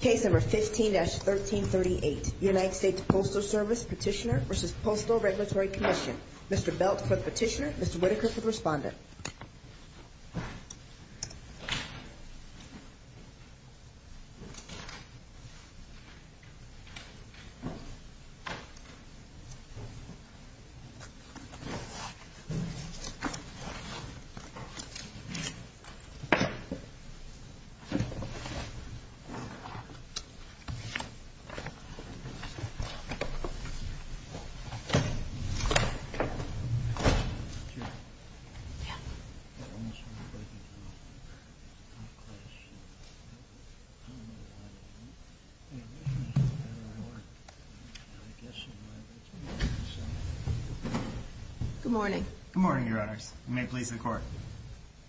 Case No. 15-1338, United States Postal Service Petitioner v. Postal Regulatory Commission. Mr. Belt for the petitioner, Mr. Whitaker for the respondent. Good morning. Good morning, Your Honors. You may please record.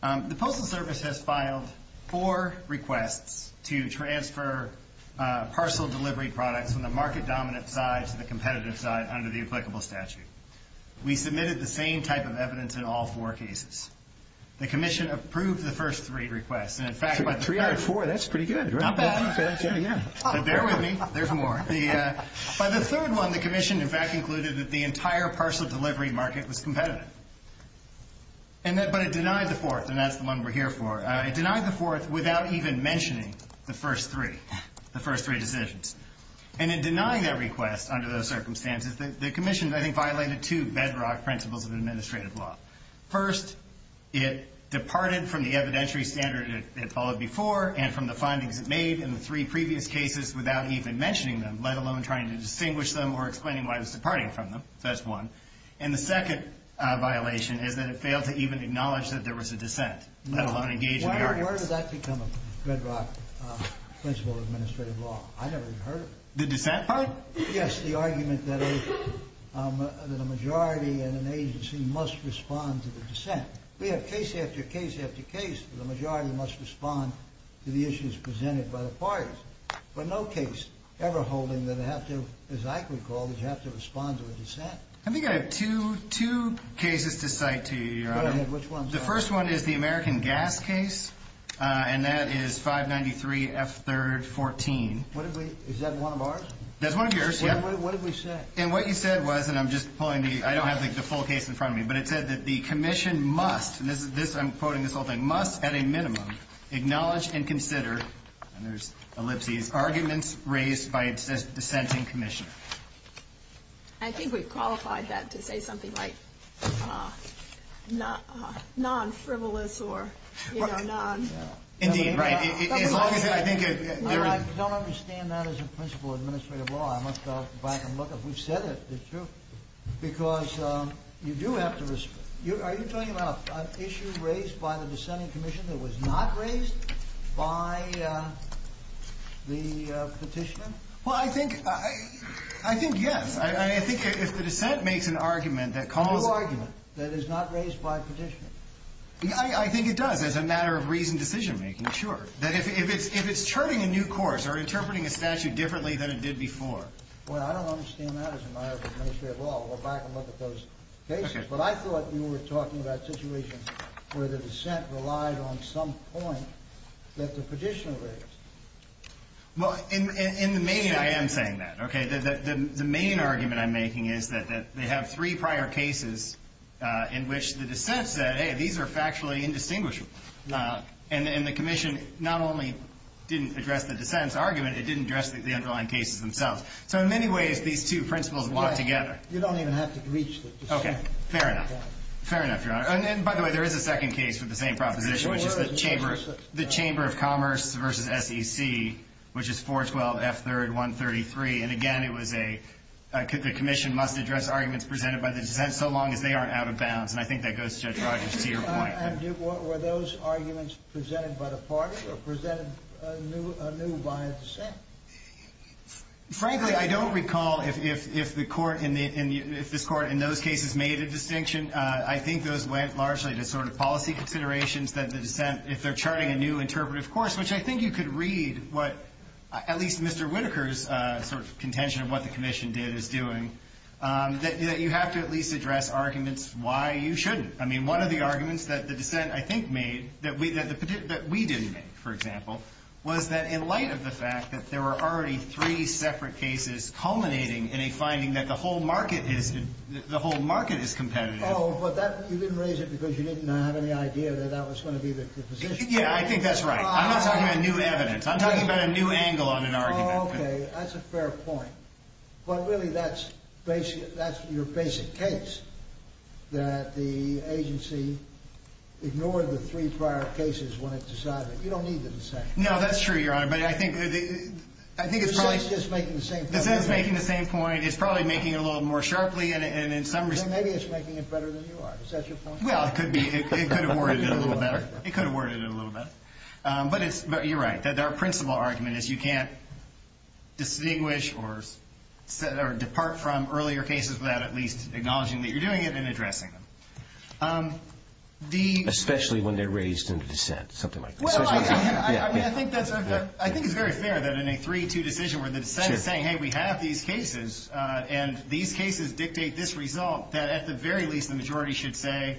The Postal Service has two types of evidence you have in your possession. The first type is that the Commission approved three requests to transfer parcel delivery products from the market-dominant side to the competitive side under the applicable statute. We submitted the same type of evidence in all four cases. The Commission approved the first three requests. So three out of four, that's pretty good, right? Not bad. But bear with me. There's more. By the third and fourth, without even mentioning the first three, the first three decisions. And in denying that request under those circumstances, the Commission, I think, violated two bedrock principles of administrative law. First, it departed from the evidentiary standard it followed before and from the findings it made in the three previous cases without even mentioning them, let alone trying to distinguish them or explaining why it was departing from them. That's one. And the second violation is that it failed to even acknowledge that there was a dissent, let alone engage in the arguments. Where does that become a bedrock principle of administrative law? I've never even heard of it. The dissent part? Yes, the argument that a majority in an agency must respond to the dissent. We have case after case after case that the majority must respond to the issues presented by the parties. But no case ever holding that they have to, as I recall, that you have to respond to a dissent. I think I have two cases to cite to you, Your Honor. Go ahead. Which one? The first one is the American Gas case, and that is 593F314. What did we – is that one of ours? That's one of yours, yes. What did we say? And what you said was – and I'm just pulling the – I don't have, like, the full case in front of me, but it said that the Commission must – and this is – I'm quoting this whole thing – must at a minimum acknowledge and consider – and there's ellipses – arguments raised by a dissenting Commissioner. I think we've qualified that to say something like non-frivolous or, you know, non – Indeed, right. As long as it – I think it – No, I don't understand that as a principle of administrative law. I must go back and look. If we've said it, it's true. Because you do have to – are you talking about an issue raised by the dissenting Commission that was not raised by the Petitioner? Well, I think – I think yes. I think if the dissent makes an argument that calls – A new argument that is not raised by Petitioner. I think it does as a matter of reasoned decision-making, sure. That if it's – if it's turning a new course or interpreting a statute differently than it did before. Well, I don't understand that as a matter of administrative law. We'll back and look at those cases. But I thought you were talking about situations where the dissent relied on some point that the Petitioner raised. Well, in the main – I am saying that, okay? The main argument I'm making is that they have three prior cases in which the dissent said, hey, these are factually indistinguishable. And the Commission not only didn't address the dissent's argument, it didn't address the underlying cases themselves. So in many ways, these two principles work together. You don't even have to breach the dissent. Okay. Fair enough. Fair enough, Your Honor. And by the way, there is a second case with the same proposition, which is the Chamber – the Chamber of Commerce v. SEC, which is 412 F. 3rd 133. And again, it was a – the Commission must address arguments presented by the dissent so long as they aren't out of bounds. And I think that goes, Judge Rodgers, to your point. And were those arguments presented by the party or presented anew by a dissent? Frankly, I don't recall if the Court in the – if this Court in those cases made a distinction. I think those went largely to sort of policy considerations that the dissent – if they're charting a new interpretive course, which I think you could read what – at least Mr. Whitaker's sort of contention of what the Commission did is doing, that you have to at least address arguments why you shouldn't. I mean, one of the arguments that the dissent, I think, made that we – that we didn't make, for example, was that in light of the fact that there were already three separate cases culminating in a finding that the whole market is – the whole market is competitive. Oh, but that – you didn't raise it because you didn't have any idea that that was going to be the position. Yeah, I think that's right. I'm not talking about new evidence. I'm talking about a new angle on an argument. Oh, okay. That's a fair point. But really, that's – that's your basic case, that the agency ignored the three prior cases when it decided. You don't need the dissent. No, that's true, Your Honor. But I think – I think it's probably – The dissent's just making the same point. I mean, it's probably making it a little more sharply, and in some – Maybe it's making it better than you are. Is that your point? Well, it could be. It could have worded it a little better. It could have worded it a little better. But it's – but you're right, that our principal argument is you can't distinguish or – or depart from earlier cases without at least acknowledging that you're doing it and addressing them. The – Especially when they're raised in dissent, something like that. Well, I – I mean, I think that's – I think it's very fair that in a 3-2 decision where the dissent is saying, hey, we have these cases, and these cases dictate this result, that at the very least, the majority should say,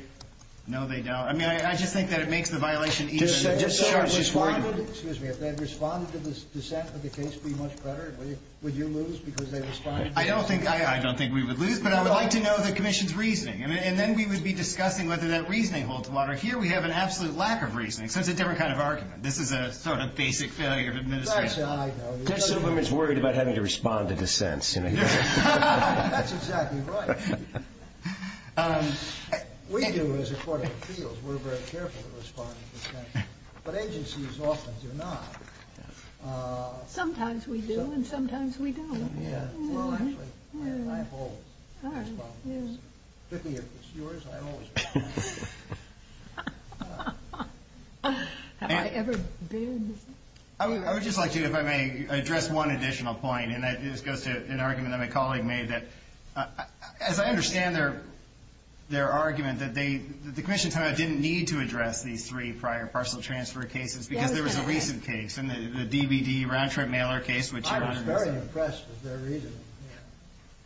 no, they don't. I mean, I – I just think that it makes the violation even – Just – just – Sure, it's just worded. Excuse me. If they had responded to the dissent of the case pretty much better, would you lose because they responded to it? I don't think – I – I don't think we would lose. No. But I would like to know the commission's reasoning. And then we would be discussing whether that reasoning holds water. Here, we have an absolute lack of reasoning, so it's a different kind of argument. This is a sort of basic failure of administration. Well, that's – I know. Mr. Silverman's worried about having to respond to dissents. That's exactly right. We do, as a court of appeals, we're very careful to respond to dissents. But agencies often do not. Sometimes we do, and sometimes we don't. Well, actually, I – I hold the responsibility. All right. Yeah. If it's yours, I always respond. Have I ever been? I would – I would just like to, if I may, address one additional point, and that goes to an argument that my colleague made that, as I understand their – their argument, that they – the commission somehow didn't need to address these three prior parcel transfer cases because there was a recent case in the DBD round-trip mailer case, which you're on. I was very impressed with their reasoning.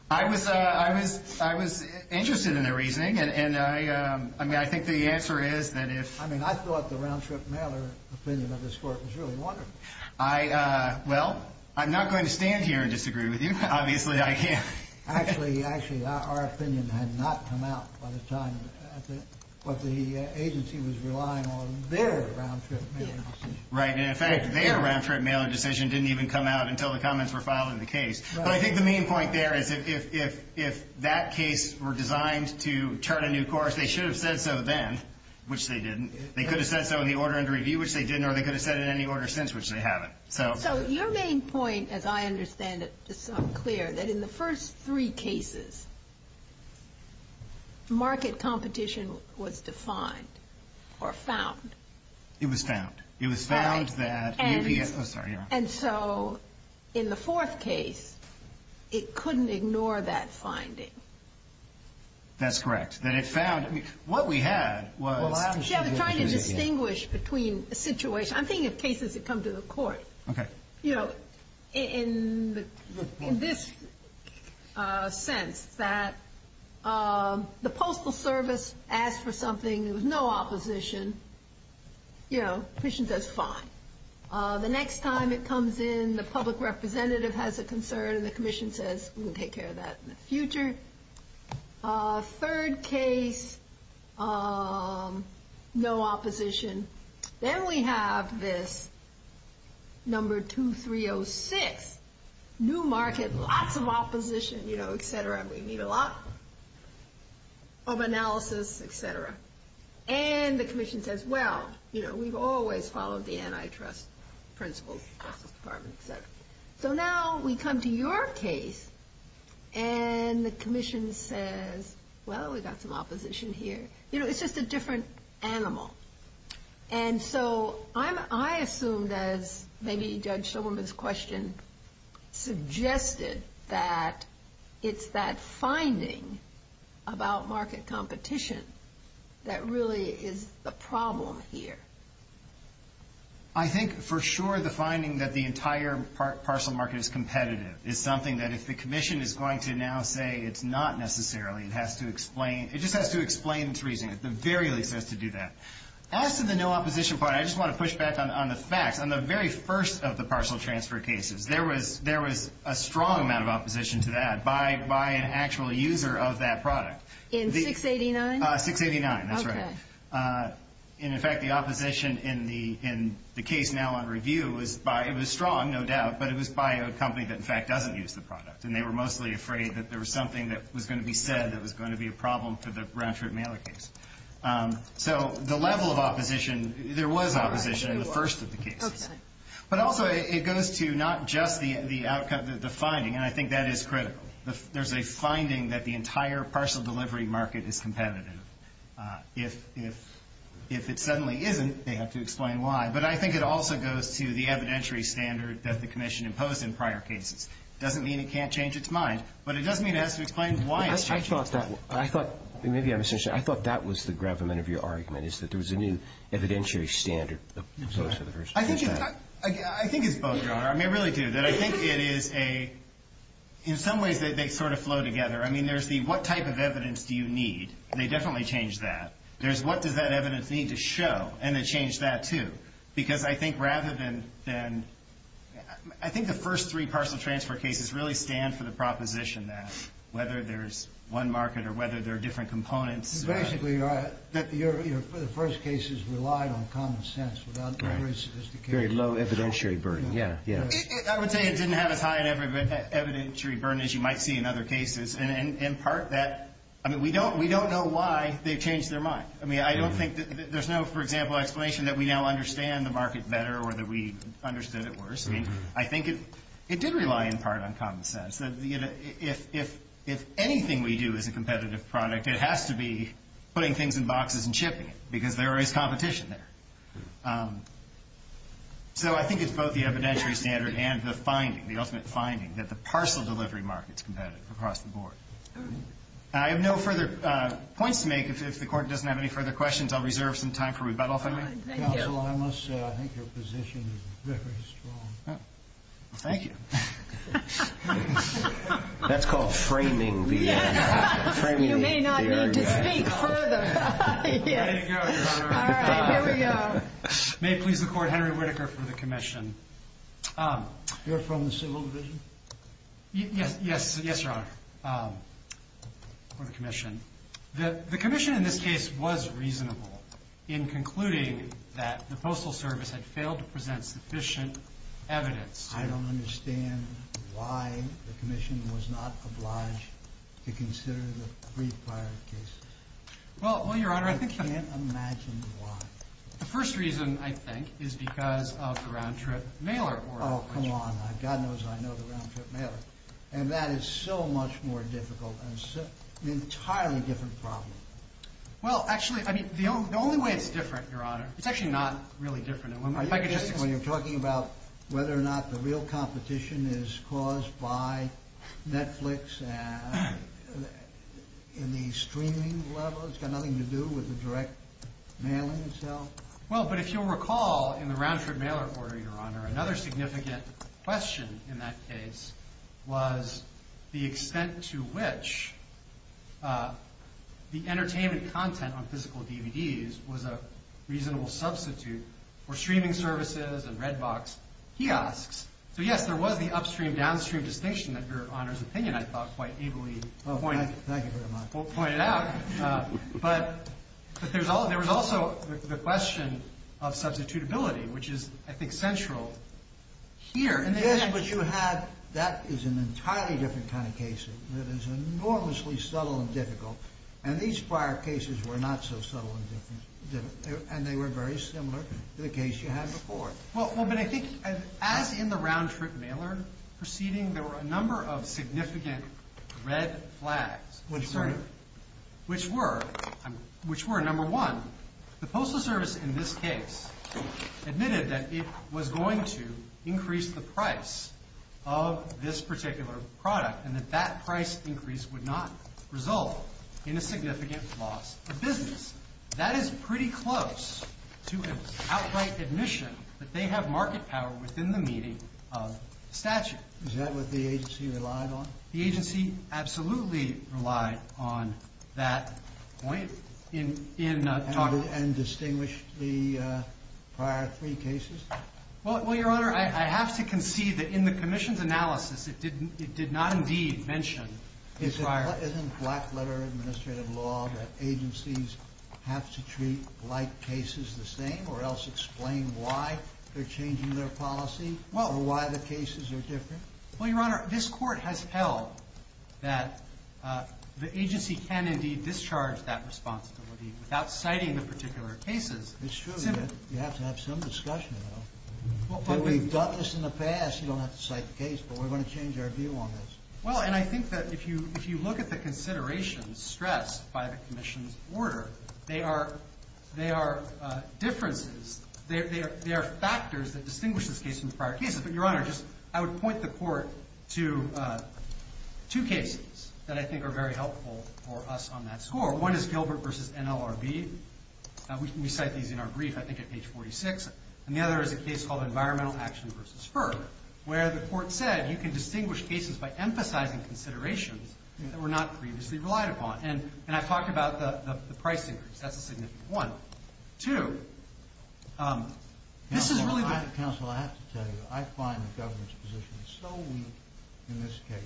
I was – I was – I was interested in their reasoning, and I – I mean, I think the answer is that if – I mean, I thought the round-trip mailer opinion of this court was really wonderful. I – well, I'm not going to stand here and disagree with you. Obviously, I can't. Actually – actually, our opinion had not come out by the time at the – what the agency was relying on, their round-trip mailer decision. Right. And in fact, their round-trip mailer decision didn't even come out until the comments were filed in the case. But I think the main point there is if – if – if that case were designed to turn out a new course, they should have said so then, which they didn't. They could have said so in the order under review, which they didn't, or they could have said it in any order since, which they haven't. So – So your main point, as I understand it, is clear, that in the first three cases, market competition was defined or found. It was found. It was found that – And – Oh, sorry. And so in the fourth case, it couldn't ignore that finding. That's correct. That it found – I mean, what we had was – Well, actually – See, I'm trying to distinguish between a situation – I'm thinking of cases that come to the court. Okay. You know, in the – in this sense, that the Postal Service asked for something. There was no opposition. You know, the Commission says, fine. The next time it comes in, the public representative has a concern, and the Commission says, we'll take care of that in the future. Third case, no opposition. Then we have this number 2306, new market, lots of opposition, you know, et cetera. We need a lot of analysis, et cetera. And the Commission says, well, you know, we've always followed the antitrust principles, Justice Department, et cetera. So now we come to your case, and the Commission says, well, we've got some opposition here. You know, it's just a different animal. And so I assumed, as maybe Judge Soberman's question suggested, that it's that finding about market competition that really is the problem here. I think for sure the finding that the entire parcel market is competitive is something that if the Commission is going to now say it's not necessarily, it has to explain – it just has to explain its reasoning. At the very least, it has to do that. As to the no opposition part, I just want to push back on the facts. On the very first of the parcel transfer cases, there was a strong amount of opposition to that by an actual user of that product. In 689? 689, that's right. Okay. And, in fact, the opposition in the case now on review was by – it was strong, no doubt, but it was by a company that, in fact, doesn't use the product. And they were mostly afraid that there was something that was going to be said that was going to be a problem for the round-trip mailer case. So the level of opposition – there was opposition in the first of the cases. But also it goes to not just the finding, and I think that is critical. There's a finding that the entire parcel delivery market is competitive. If it suddenly isn't, they have to explain why. But I think it also goes to the evidentiary standard that the commission imposed in prior cases. It doesn't mean it can't change its mind, but it does mean it has to explain why it's changing. I thought that was the gravamen of your argument, is that there was a new evidentiary standard imposed for the first case. I think it's both, Your Honor. I really do. I think it is a – in some ways they sort of flow together. I mean, there's the what type of evidence do you need. They definitely change that. There's what does that evidence need to show, and they change that too. Because I think rather than – I think the first three parcel transfer cases really stand for the proposition that whether there's one market or whether there are different components. Basically, Your Honor, that the first cases relied on common sense without great sophistication. Very low evidentiary burden, yeah. I would say it didn't have as high an evidentiary burden as you might see in other cases. In part, that – I mean, we don't know why they've changed their mind. I mean, I don't think – there's no, for example, explanation that we now understand the market better or that we understood it worse. I mean, I think it did rely in part on common sense. If anything we do is a competitive product, it has to be putting things in boxes and chipping them, because there is competition there. So I think it's both the evidentiary standard and the finding, the ultimate finding, that the parcel delivery market is competitive across the board. I have no further points to make. If the Court doesn't have any further questions, I'll reserve some time for rebuttal, if I may. Thank you. Counsel, I must say I think your position is very strong. Thank you. That's called framing the argument. You may not need to speak further. There you go, Your Honor. All right, here we go. May it please the Court, Henry Whitaker for the commission. You're from the Civil Division? Yes, Your Honor, for the commission. The commission in this case was reasonable in concluding that the Postal Service had failed to present sufficient evidence. I don't understand why the commission was not obliged to consider the three prior cases. Well, Your Honor, I think the first reason, I think, is because of the round-trip mailer. Oh, come on. God knows I know the round-trip mailer. And that is so much more difficult and an entirely different problem. Well, actually, I mean, the only way it's different, Your Honor, it's actually not really different. Are you kidding when you're talking about whether or not the real competition is caused by Netflix and the streaming level? It's got nothing to do with the direct mailing itself? Well, but if you'll recall in the round-trip mailer order, Your Honor, another significant question in that case was the extent to which the entertainment content on physical DVDs was a reasonable substitute for streaming services and red box kiosks. So, yes, there was the upstream-downstream distinction that Your Honor's opinion, I thought, quite ably pointed out. Thank you very much. But there was also the question of substitutability, which is, I think, central here. Yes, but that is an entirely different kind of case. It is enormously subtle and difficult. And these prior cases were not so subtle and difficult. And they were very similar to the case you had before. Well, but I think as in the round-trip mailer proceeding, there were a number of significant red flags. Which were? Which were, number one, the Postal Service in this case admitted that it was going to increase the price of this particular product and that that price increase would not result in a significant loss of business. That is pretty close to an outright admission that they have market power within the meeting of statute. Is that what the agency relied on? The agency absolutely relied on that point. And distinguished the prior three cases? Well, Your Honor, I have to concede that in the commission's analysis, it did not indeed mention the prior. Isn't black-letter administrative law that agencies have to treat like cases the same or else explain why they're changing their policy or why the cases are different? Well, Your Honor, this Court has held that the agency can indeed discharge that responsibility without citing the particular cases. It's true. You have to have some discussion, though. We've done this in the past. You don't have to cite the case. But we're going to change our view on this. Well, and I think that if you look at the considerations stressed by the commission's order, they are differences. They are factors that distinguish this case from the prior cases. But, Your Honor, I would point the Court to two cases that I think are very helpful for us on that score. One is Gilbert v. NLRB. We cite these in our brief, I think, at page 46. And the other is a case called Environmental Action v. FERC where the Court said you can distinguish cases by emphasizing considerations that were not previously relied upon. And I've talked about the price increase. That's a significant one. Two, this is really the... Counsel, I have to tell you, I find the government's position so weak in this case.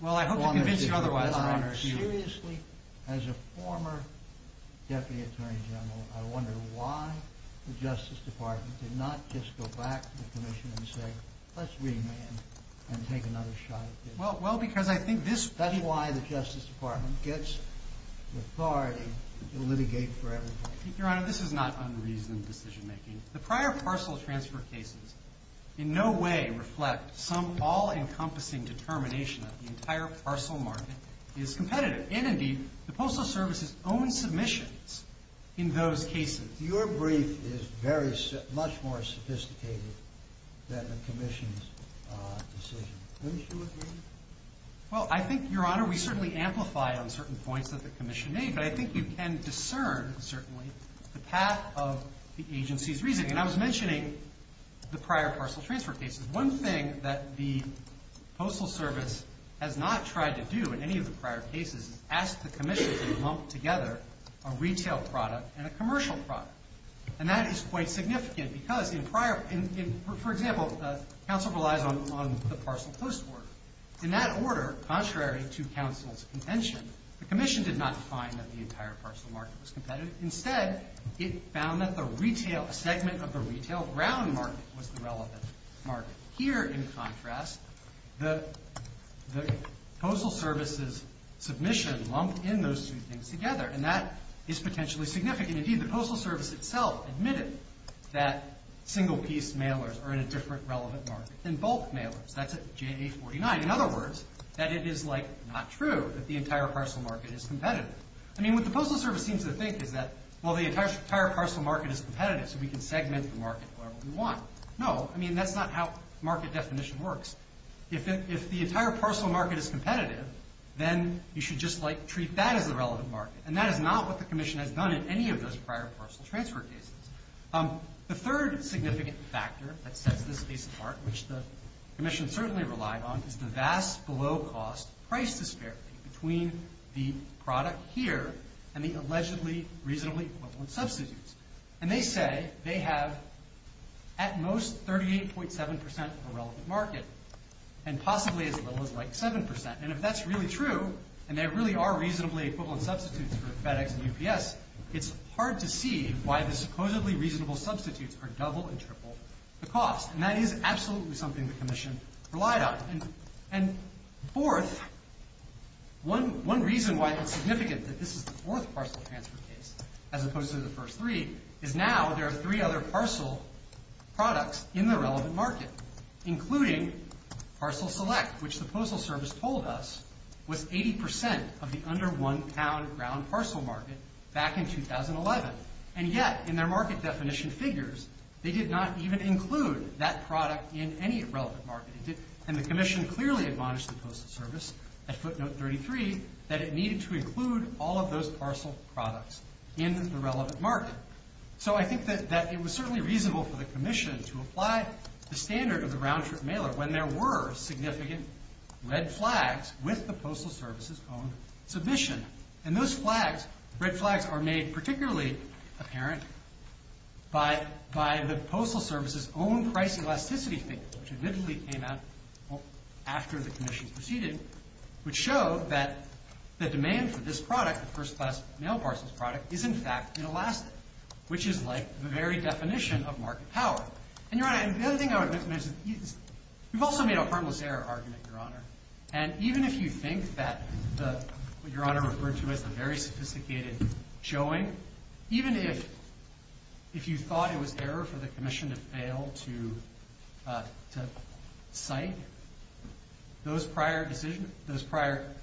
Well, I hope to convince you otherwise, Your Honor. Seriously, as a former Deputy Attorney General, I wonder why the Justice Department did not just go back to the commission and say, let's remand and take another shot at this. Well, because I think this... That's why the Justice Department gets the authority to litigate for everybody. Your Honor, this is not unreasoned decision-making. The prior parcel transfer cases in no way reflect some all-encompassing determination that the entire parcel market is competitive. And indeed, the Postal Service's own submissions in those cases. Your brief is much more sophisticated than the commission's decision. Don't you agree? Well, I think, Your Honor, we certainly amplify on certain points that the commission made, but I think you can discern, certainly, the path of the agency's reasoning. And I was mentioning the prior parcel transfer cases. One thing that the Postal Service has not tried to do in any of the prior cases is ask the commission to lump together a retail product and a commercial product. And that is quite significant because in prior... For example, counsel relies on the parcel post work. In that order, contrary to counsel's contention, the commission did not find that the entire parcel market was competitive. Instead, it found that a segment of the retail ground market was the relevant market. Here, in contrast, the Postal Service's submission lumped in those two things together. And that is potentially significant. Indeed, the Postal Service itself admitted that single-piece mailers are in a different relevant market than bulk mailers. That's at JA-49. In other words, that it is, like, not true that the entire parcel market is competitive. I mean, what the Postal Service seems to think is that, well, the entire parcel market is competitive, so we can segment the market however we want. No, I mean, that's not how market definition works. If the entire parcel market is competitive, then you should just, like, treat that as the relevant market. And that is not what the commission has done in any of those prior parcel transfer cases. The third significant factor that sets this case apart, which the commission certainly relied on, is the vast below-cost price disparity between the product here and the allegedly reasonably equivalent substitutes. And they say they have at most 38.7% of a relevant market and possibly as little as, like, 7%. And if that's really true, and there really are reasonably equivalent substitutes for FedEx and UPS, it's hard to see why the supposedly reasonable substitutes are double and triple the cost. And that is absolutely something the commission relied on. And fourth, one reason why it's significant that this is the fourth parcel transfer case, as opposed to the first three, is now there are three other parcel products in the relevant market, including Parcel Select, which the Postal Service told us was 80% of the under one pound ground parcel market back in 2011. And yet, in their market definition figures, they did not even include that product in any relevant market. And the commission clearly admonished the Postal Service at footnote 33 that it needed to include all of those parcel products in the relevant market. So I think that it was certainly reasonable for the commission to apply the standard of the round-trip mailer when there were significant red flags with the Postal Service's own submission. And those flags, red flags, are made particularly apparent by the Postal Service's own price elasticity figures, which admittedly came out after the commission proceeded, which show that the demand for this product, the first class mail parcels product, is in fact inelastic, which is like the very definition of market power. And, Your Honor, the other thing I would mention is you've also made a harmless error argument, Your Honor. And even if you think that what Your Honor referred to as the very sophisticated showing, even if you thought it was error for the commission to fail to cite those prior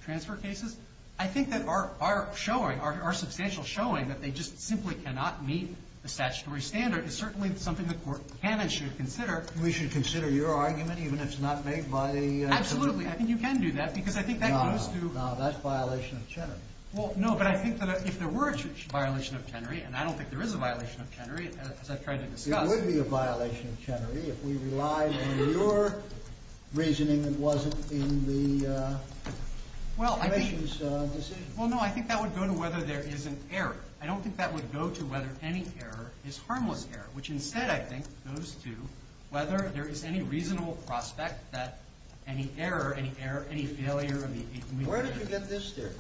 transfer cases, I think that our showing, our substantial showing that they just simply cannot meet the statutory standard is certainly something the court can and should consider. We should consider your argument, even if it's not made by the commission? Absolutely. I think you can do that, because I think that goes to... No, no, that's violation of Chenery. Well, no, but I think that if there were a violation of Chenery, and I don't think there is a violation of Chenery, as I've tried to discuss... It would be a violation of Chenery if we relied on your reasoning and wasn't in the commission's decision. Well, no, I think that would go to whether there is an error. I don't think that would go to whether any error is harmless error, which instead, I think, goes to whether there is any reasonable prospect that any error, any failure... Where did you get this theory?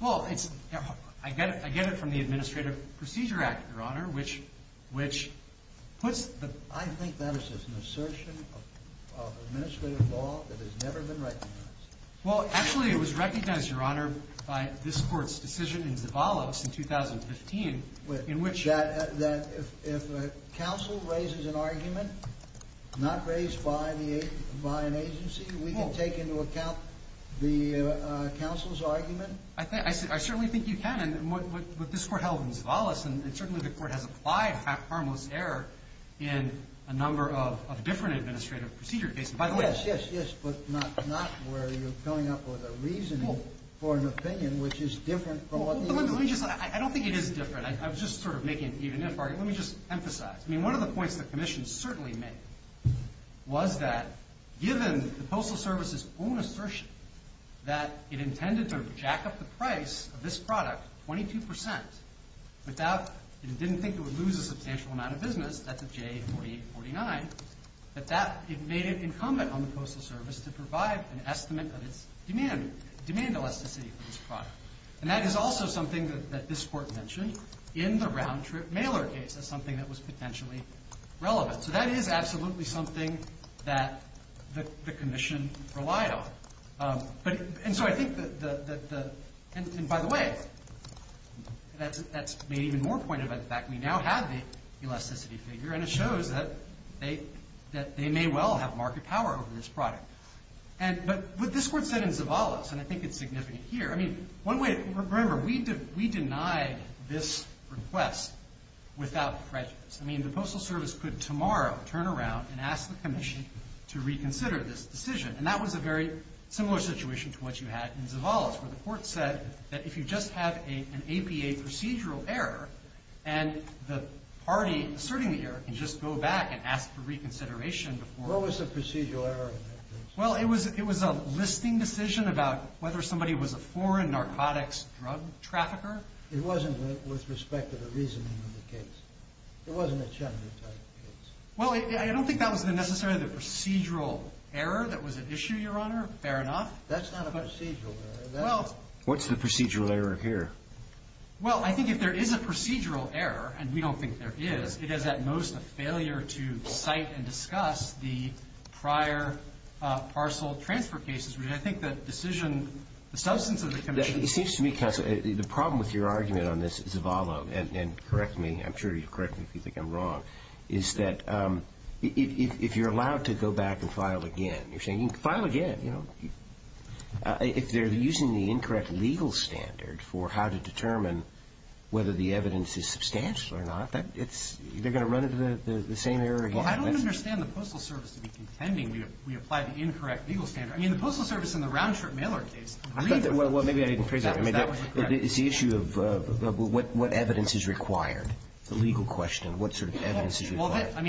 Well, I get it from the Administrative Procedure Act, Your Honor, which puts the... I think that is just an assertion of administrative law that has never been recognized. Well, actually, it was recognized, Your Honor, by this Court's decision in Zavala in 2015, in which... That if a counsel raises an argument, not raised by an agency, we can take into account the counsel's argument. I certainly think you can, and what this Court held in Zavala, and certainly the Court has applied harmless error in a number of different administrative procedure cases. Yes, yes, yes, but not where you're coming up with a reasoning for an opinion which is different from what the... Let me just... I don't think it is different. I was just sort of making an even-if argument. Let me just emphasize. I mean, one of the points the Commission certainly made was that given the Postal Service's own assertion that it intended to jack up the price of this product 22% without... it didn't think it would lose a substantial amount of business, that's a J4849, that that made it incumbent on the Postal Service to provide an estimate of its demand, demand elasticity for this product. And that is also something that this Court mentioned in the round-trip mailer case as something that was potentially relevant. So that is absolutely something that the Commission relied on. And so I think that the... And by the way, that's made even more point about the fact we now have the elasticity figure, and it shows that they may well have market power over this product. But what this Court said in Zavala, and I think it's significant here, I mean, one way... Remember, we denied this request without prejudice. I mean, the Postal Service could tomorrow turn around and ask the Commission to reconsider this decision. And that was a very similar situation to what you had in Zavala, where the Court said that if you just have an APA procedural error and the party asserting the error can just go back and ask for reconsideration before... What was the procedural error in that case? Well, it was a listing decision about whether somebody was a foreign narcotics drug trafficker. It wasn't with respect to the reasoning of the case. It wasn't a gender type case. Well, I don't think that was necessarily the procedural error that was at issue, Your Honor. Fair enough. That's not a procedural error. Well... What's the procedural error here? Well, I think if there is a procedural error, and we don't think there is, it is at most a failure to cite and discuss the prior parcel transfer cases. I think the decision... The substance of the Commission... It seems to me, Counsel, the problem with your argument on this, Zavala, and correct me, I'm sure you'll correct me if you think I'm wrong, is that if you're allowed to go back and file again, you're saying file again, you know? If they're using the incorrect legal standard for how to determine whether the evidence is substantial or not, they're going to run into the same error again. Well, I don't understand the Postal Service to be contending we applied the incorrect legal standard. I mean, the Postal Service and the round-trip mailer case... Well, maybe I didn't phrase that... It's the issue of what evidence is required, the legal question, what sort of evidence is required. And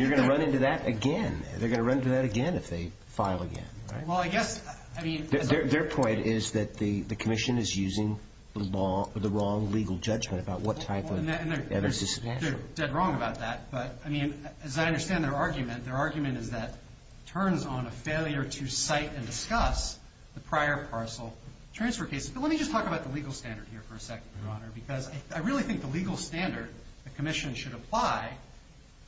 you're going to run into that again. They're going to run into that again if they file again, right? Well, I guess, I mean... Their point is that the Commission is using the wrong legal judgment about what type of evidence is substantial. They're dead wrong about that. But, I mean, as I understand their argument, their argument is that it turns on a failure to cite and discuss the prior parcel transfer cases. But let me just talk about the legal standard here for a second, Your Honor, because I really think the legal standard the Commission should apply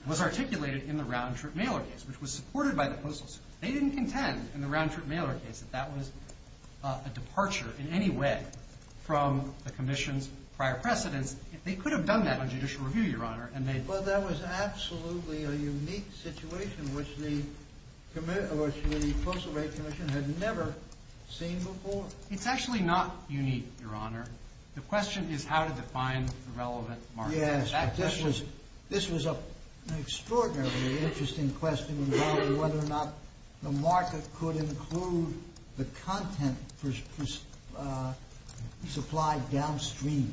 was articulated in the round-trip mailer case, which was supported by the Postal Service. They didn't contend in the round-trip mailer case that that was a departure in any way from the Commission's prior precedence. They could have done that on judicial review, Your Honor, and they... Well, that was absolutely a unique situation which the Postal Rate Commission had never seen before. It's actually not unique, Your Honor. The question is how to define the relevant market. Yes, this was an extraordinarily interesting question involving whether or not the market could include the content supplied downstream.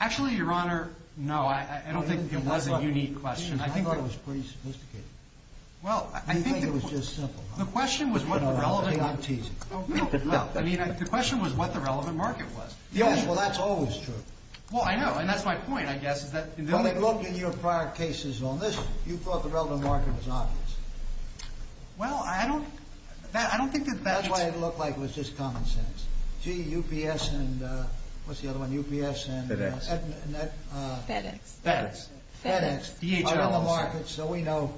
Actually, Your Honor, no. I don't think it was a unique question. I thought it was pretty sophisticated. You think it was just simple, huh? The question was what the relevant... Hang on, I'm teasing. I mean, the question was what the relevant market was. Yes, well, that's always true. Well, I know, and that's my point, I guess, is that... Well, they looked in your prior cases on this. You thought the relevant market was obvious. Well, I don't... That's why it looked like it was just common sense. Gee, UPS and... What's the other one? UPS and... FedEx. FedEx. FedEx. FedEx. DHLs. So we know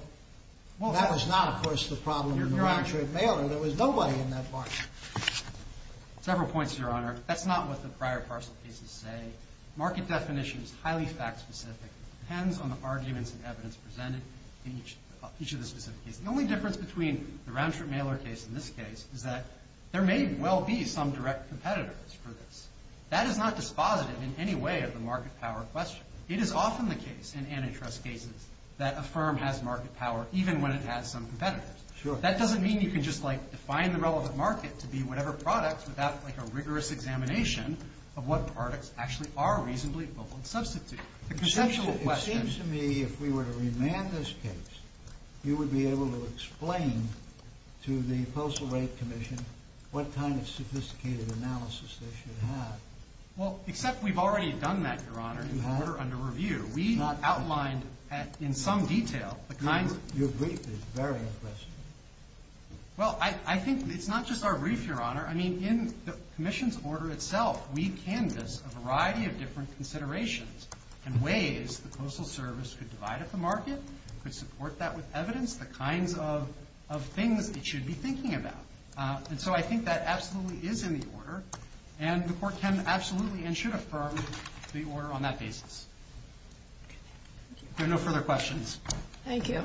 that was not, of course, the problem in the round-trip mailer. There was nobody in that market. Several points, Your Honor. That's not what the prior parcel cases say. Market definition is highly fact-specific. It depends on the arguments and evidence presented in each of the specific cases. The only difference between the round-trip mailer case and this case is that there may well be some direct competitors for this. That is not dispositive in any way of the market power question. It is often the case in antitrust cases that a firm has market power even when it has some competitors. That doesn't mean you can just, like, define the relevant market to be whatever product without, like, a rigorous examination of what products actually are reasonably bold substitutes. The conceptual question... It seems to me if we were to remand this case, you would be able to explain to the Postal Rate Commission what kind of sophisticated analysis they should have. Well, except we've already done that, Your Honor, in the order under review. We outlined in some detail the kinds of... Your brief is very impressive. Well, I think it's not just our brief, Your Honor. I mean, in the commission's order itself, we canvassed a variety of different considerations and ways the Postal Service could divide up the market, could support that with evidence, the kinds of things it should be thinking about. And so I think that absolutely is in the order, and the Court can absolutely and should affirm the order on that basis. Okay. Thank you. There are no further questions. Thank you.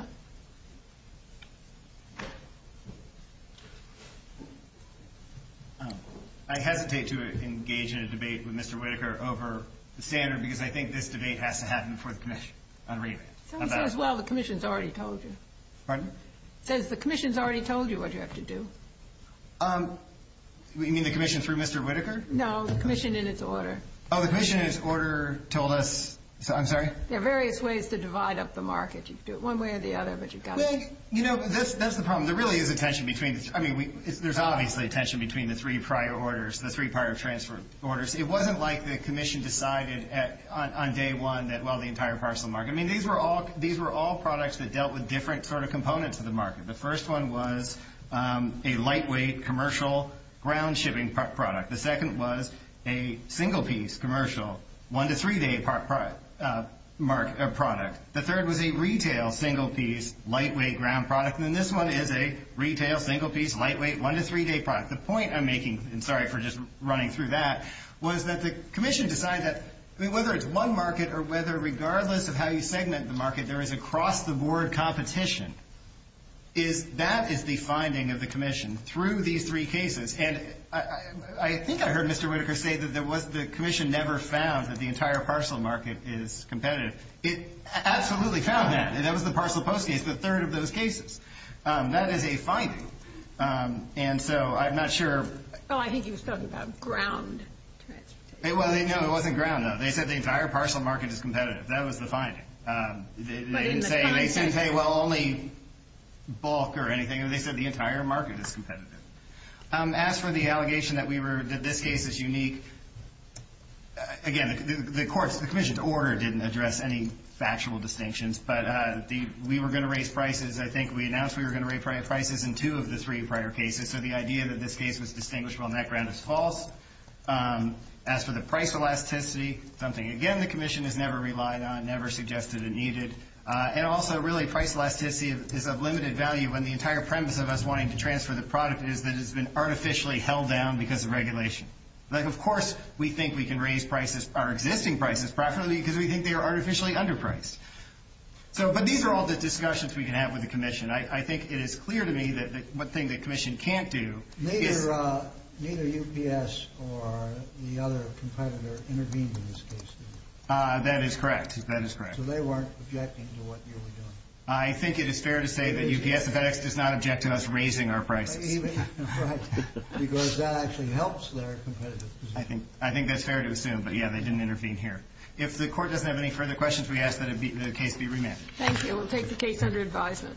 I hesitate to engage in a debate with Mr. Whitaker over the standard because I think this debate has to happen before the commission. Someone says, well, the commission's already told you. Pardon? Says the commission's already told you what you have to do. You mean the commission through Mr. Whitaker? No, the commission in its order. Oh, the commission in its order told us... I'm sorry? There are various ways to divide up the market. You can do it one way or the other, but you've got to... Well, you know, that's the problem. There really is a tension between... I mean, there's obviously a tension between the three prior orders, the three prior transfer orders. It wasn't like the commission decided on day one that, well, the entire parcel market... I mean, these were all products that dealt with different sort of components of the market. The first one was a lightweight commercial ground shipping product. The second was a single-piece commercial one- to three-day product. The third was a retail single-piece lightweight ground product. And then this one is a retail single-piece lightweight one- to three-day product. The point I'm making, and sorry for just running through that, was that the commission decided that whether it's one market or whether regardless of how you segment the market, there is a cross-the-board competition. That is the finding of the commission through these three cases. And I think I heard Mr. Whitaker say that the commission never found that the entire parcel market is competitive. It absolutely found that. That was the parcel post case, the third of those cases. That is a finding. And so I'm not sure... Well, I think he was talking about ground. Well, no, it wasn't ground. They said the entire parcel market is competitive. That was the finding. They didn't say, well, only bulk or anything. They said the entire market is competitive. As for the allegation that this case is unique, again, the commission's order didn't address any factual distinctions. But we were going to raise prices. I think we announced we were going to raise prices in two of the three prior cases. So the idea that this case was distinguishable on that ground is false. As for the price elasticity, something, again, the commission has never relied on, never suggested it needed. And also, really, price elasticity is of limited value when the entire premise of us wanting to transfer the product is that it's been artificially held down because of regulation. Like, of course, we think we can raise prices, our existing prices, preferably because we think they are artificially underpriced. But these are all the discussions we can have with the commission. I think it is clear to me that one thing the commission can't do is ‑‑ Neither UPS or the other competitor intervened in this case, did they? That is correct. That is correct. So they weren't objecting to what you were doing? I think it is fair to say that UPS and FedEx does not object to us raising our prices. Right. Because that actually helps their competitive position. I think that's fair to assume. But, yeah, they didn't intervene here. If the Court doesn't have any further questions, we ask that the case be remanded. Thank you. We will take the case under advisement.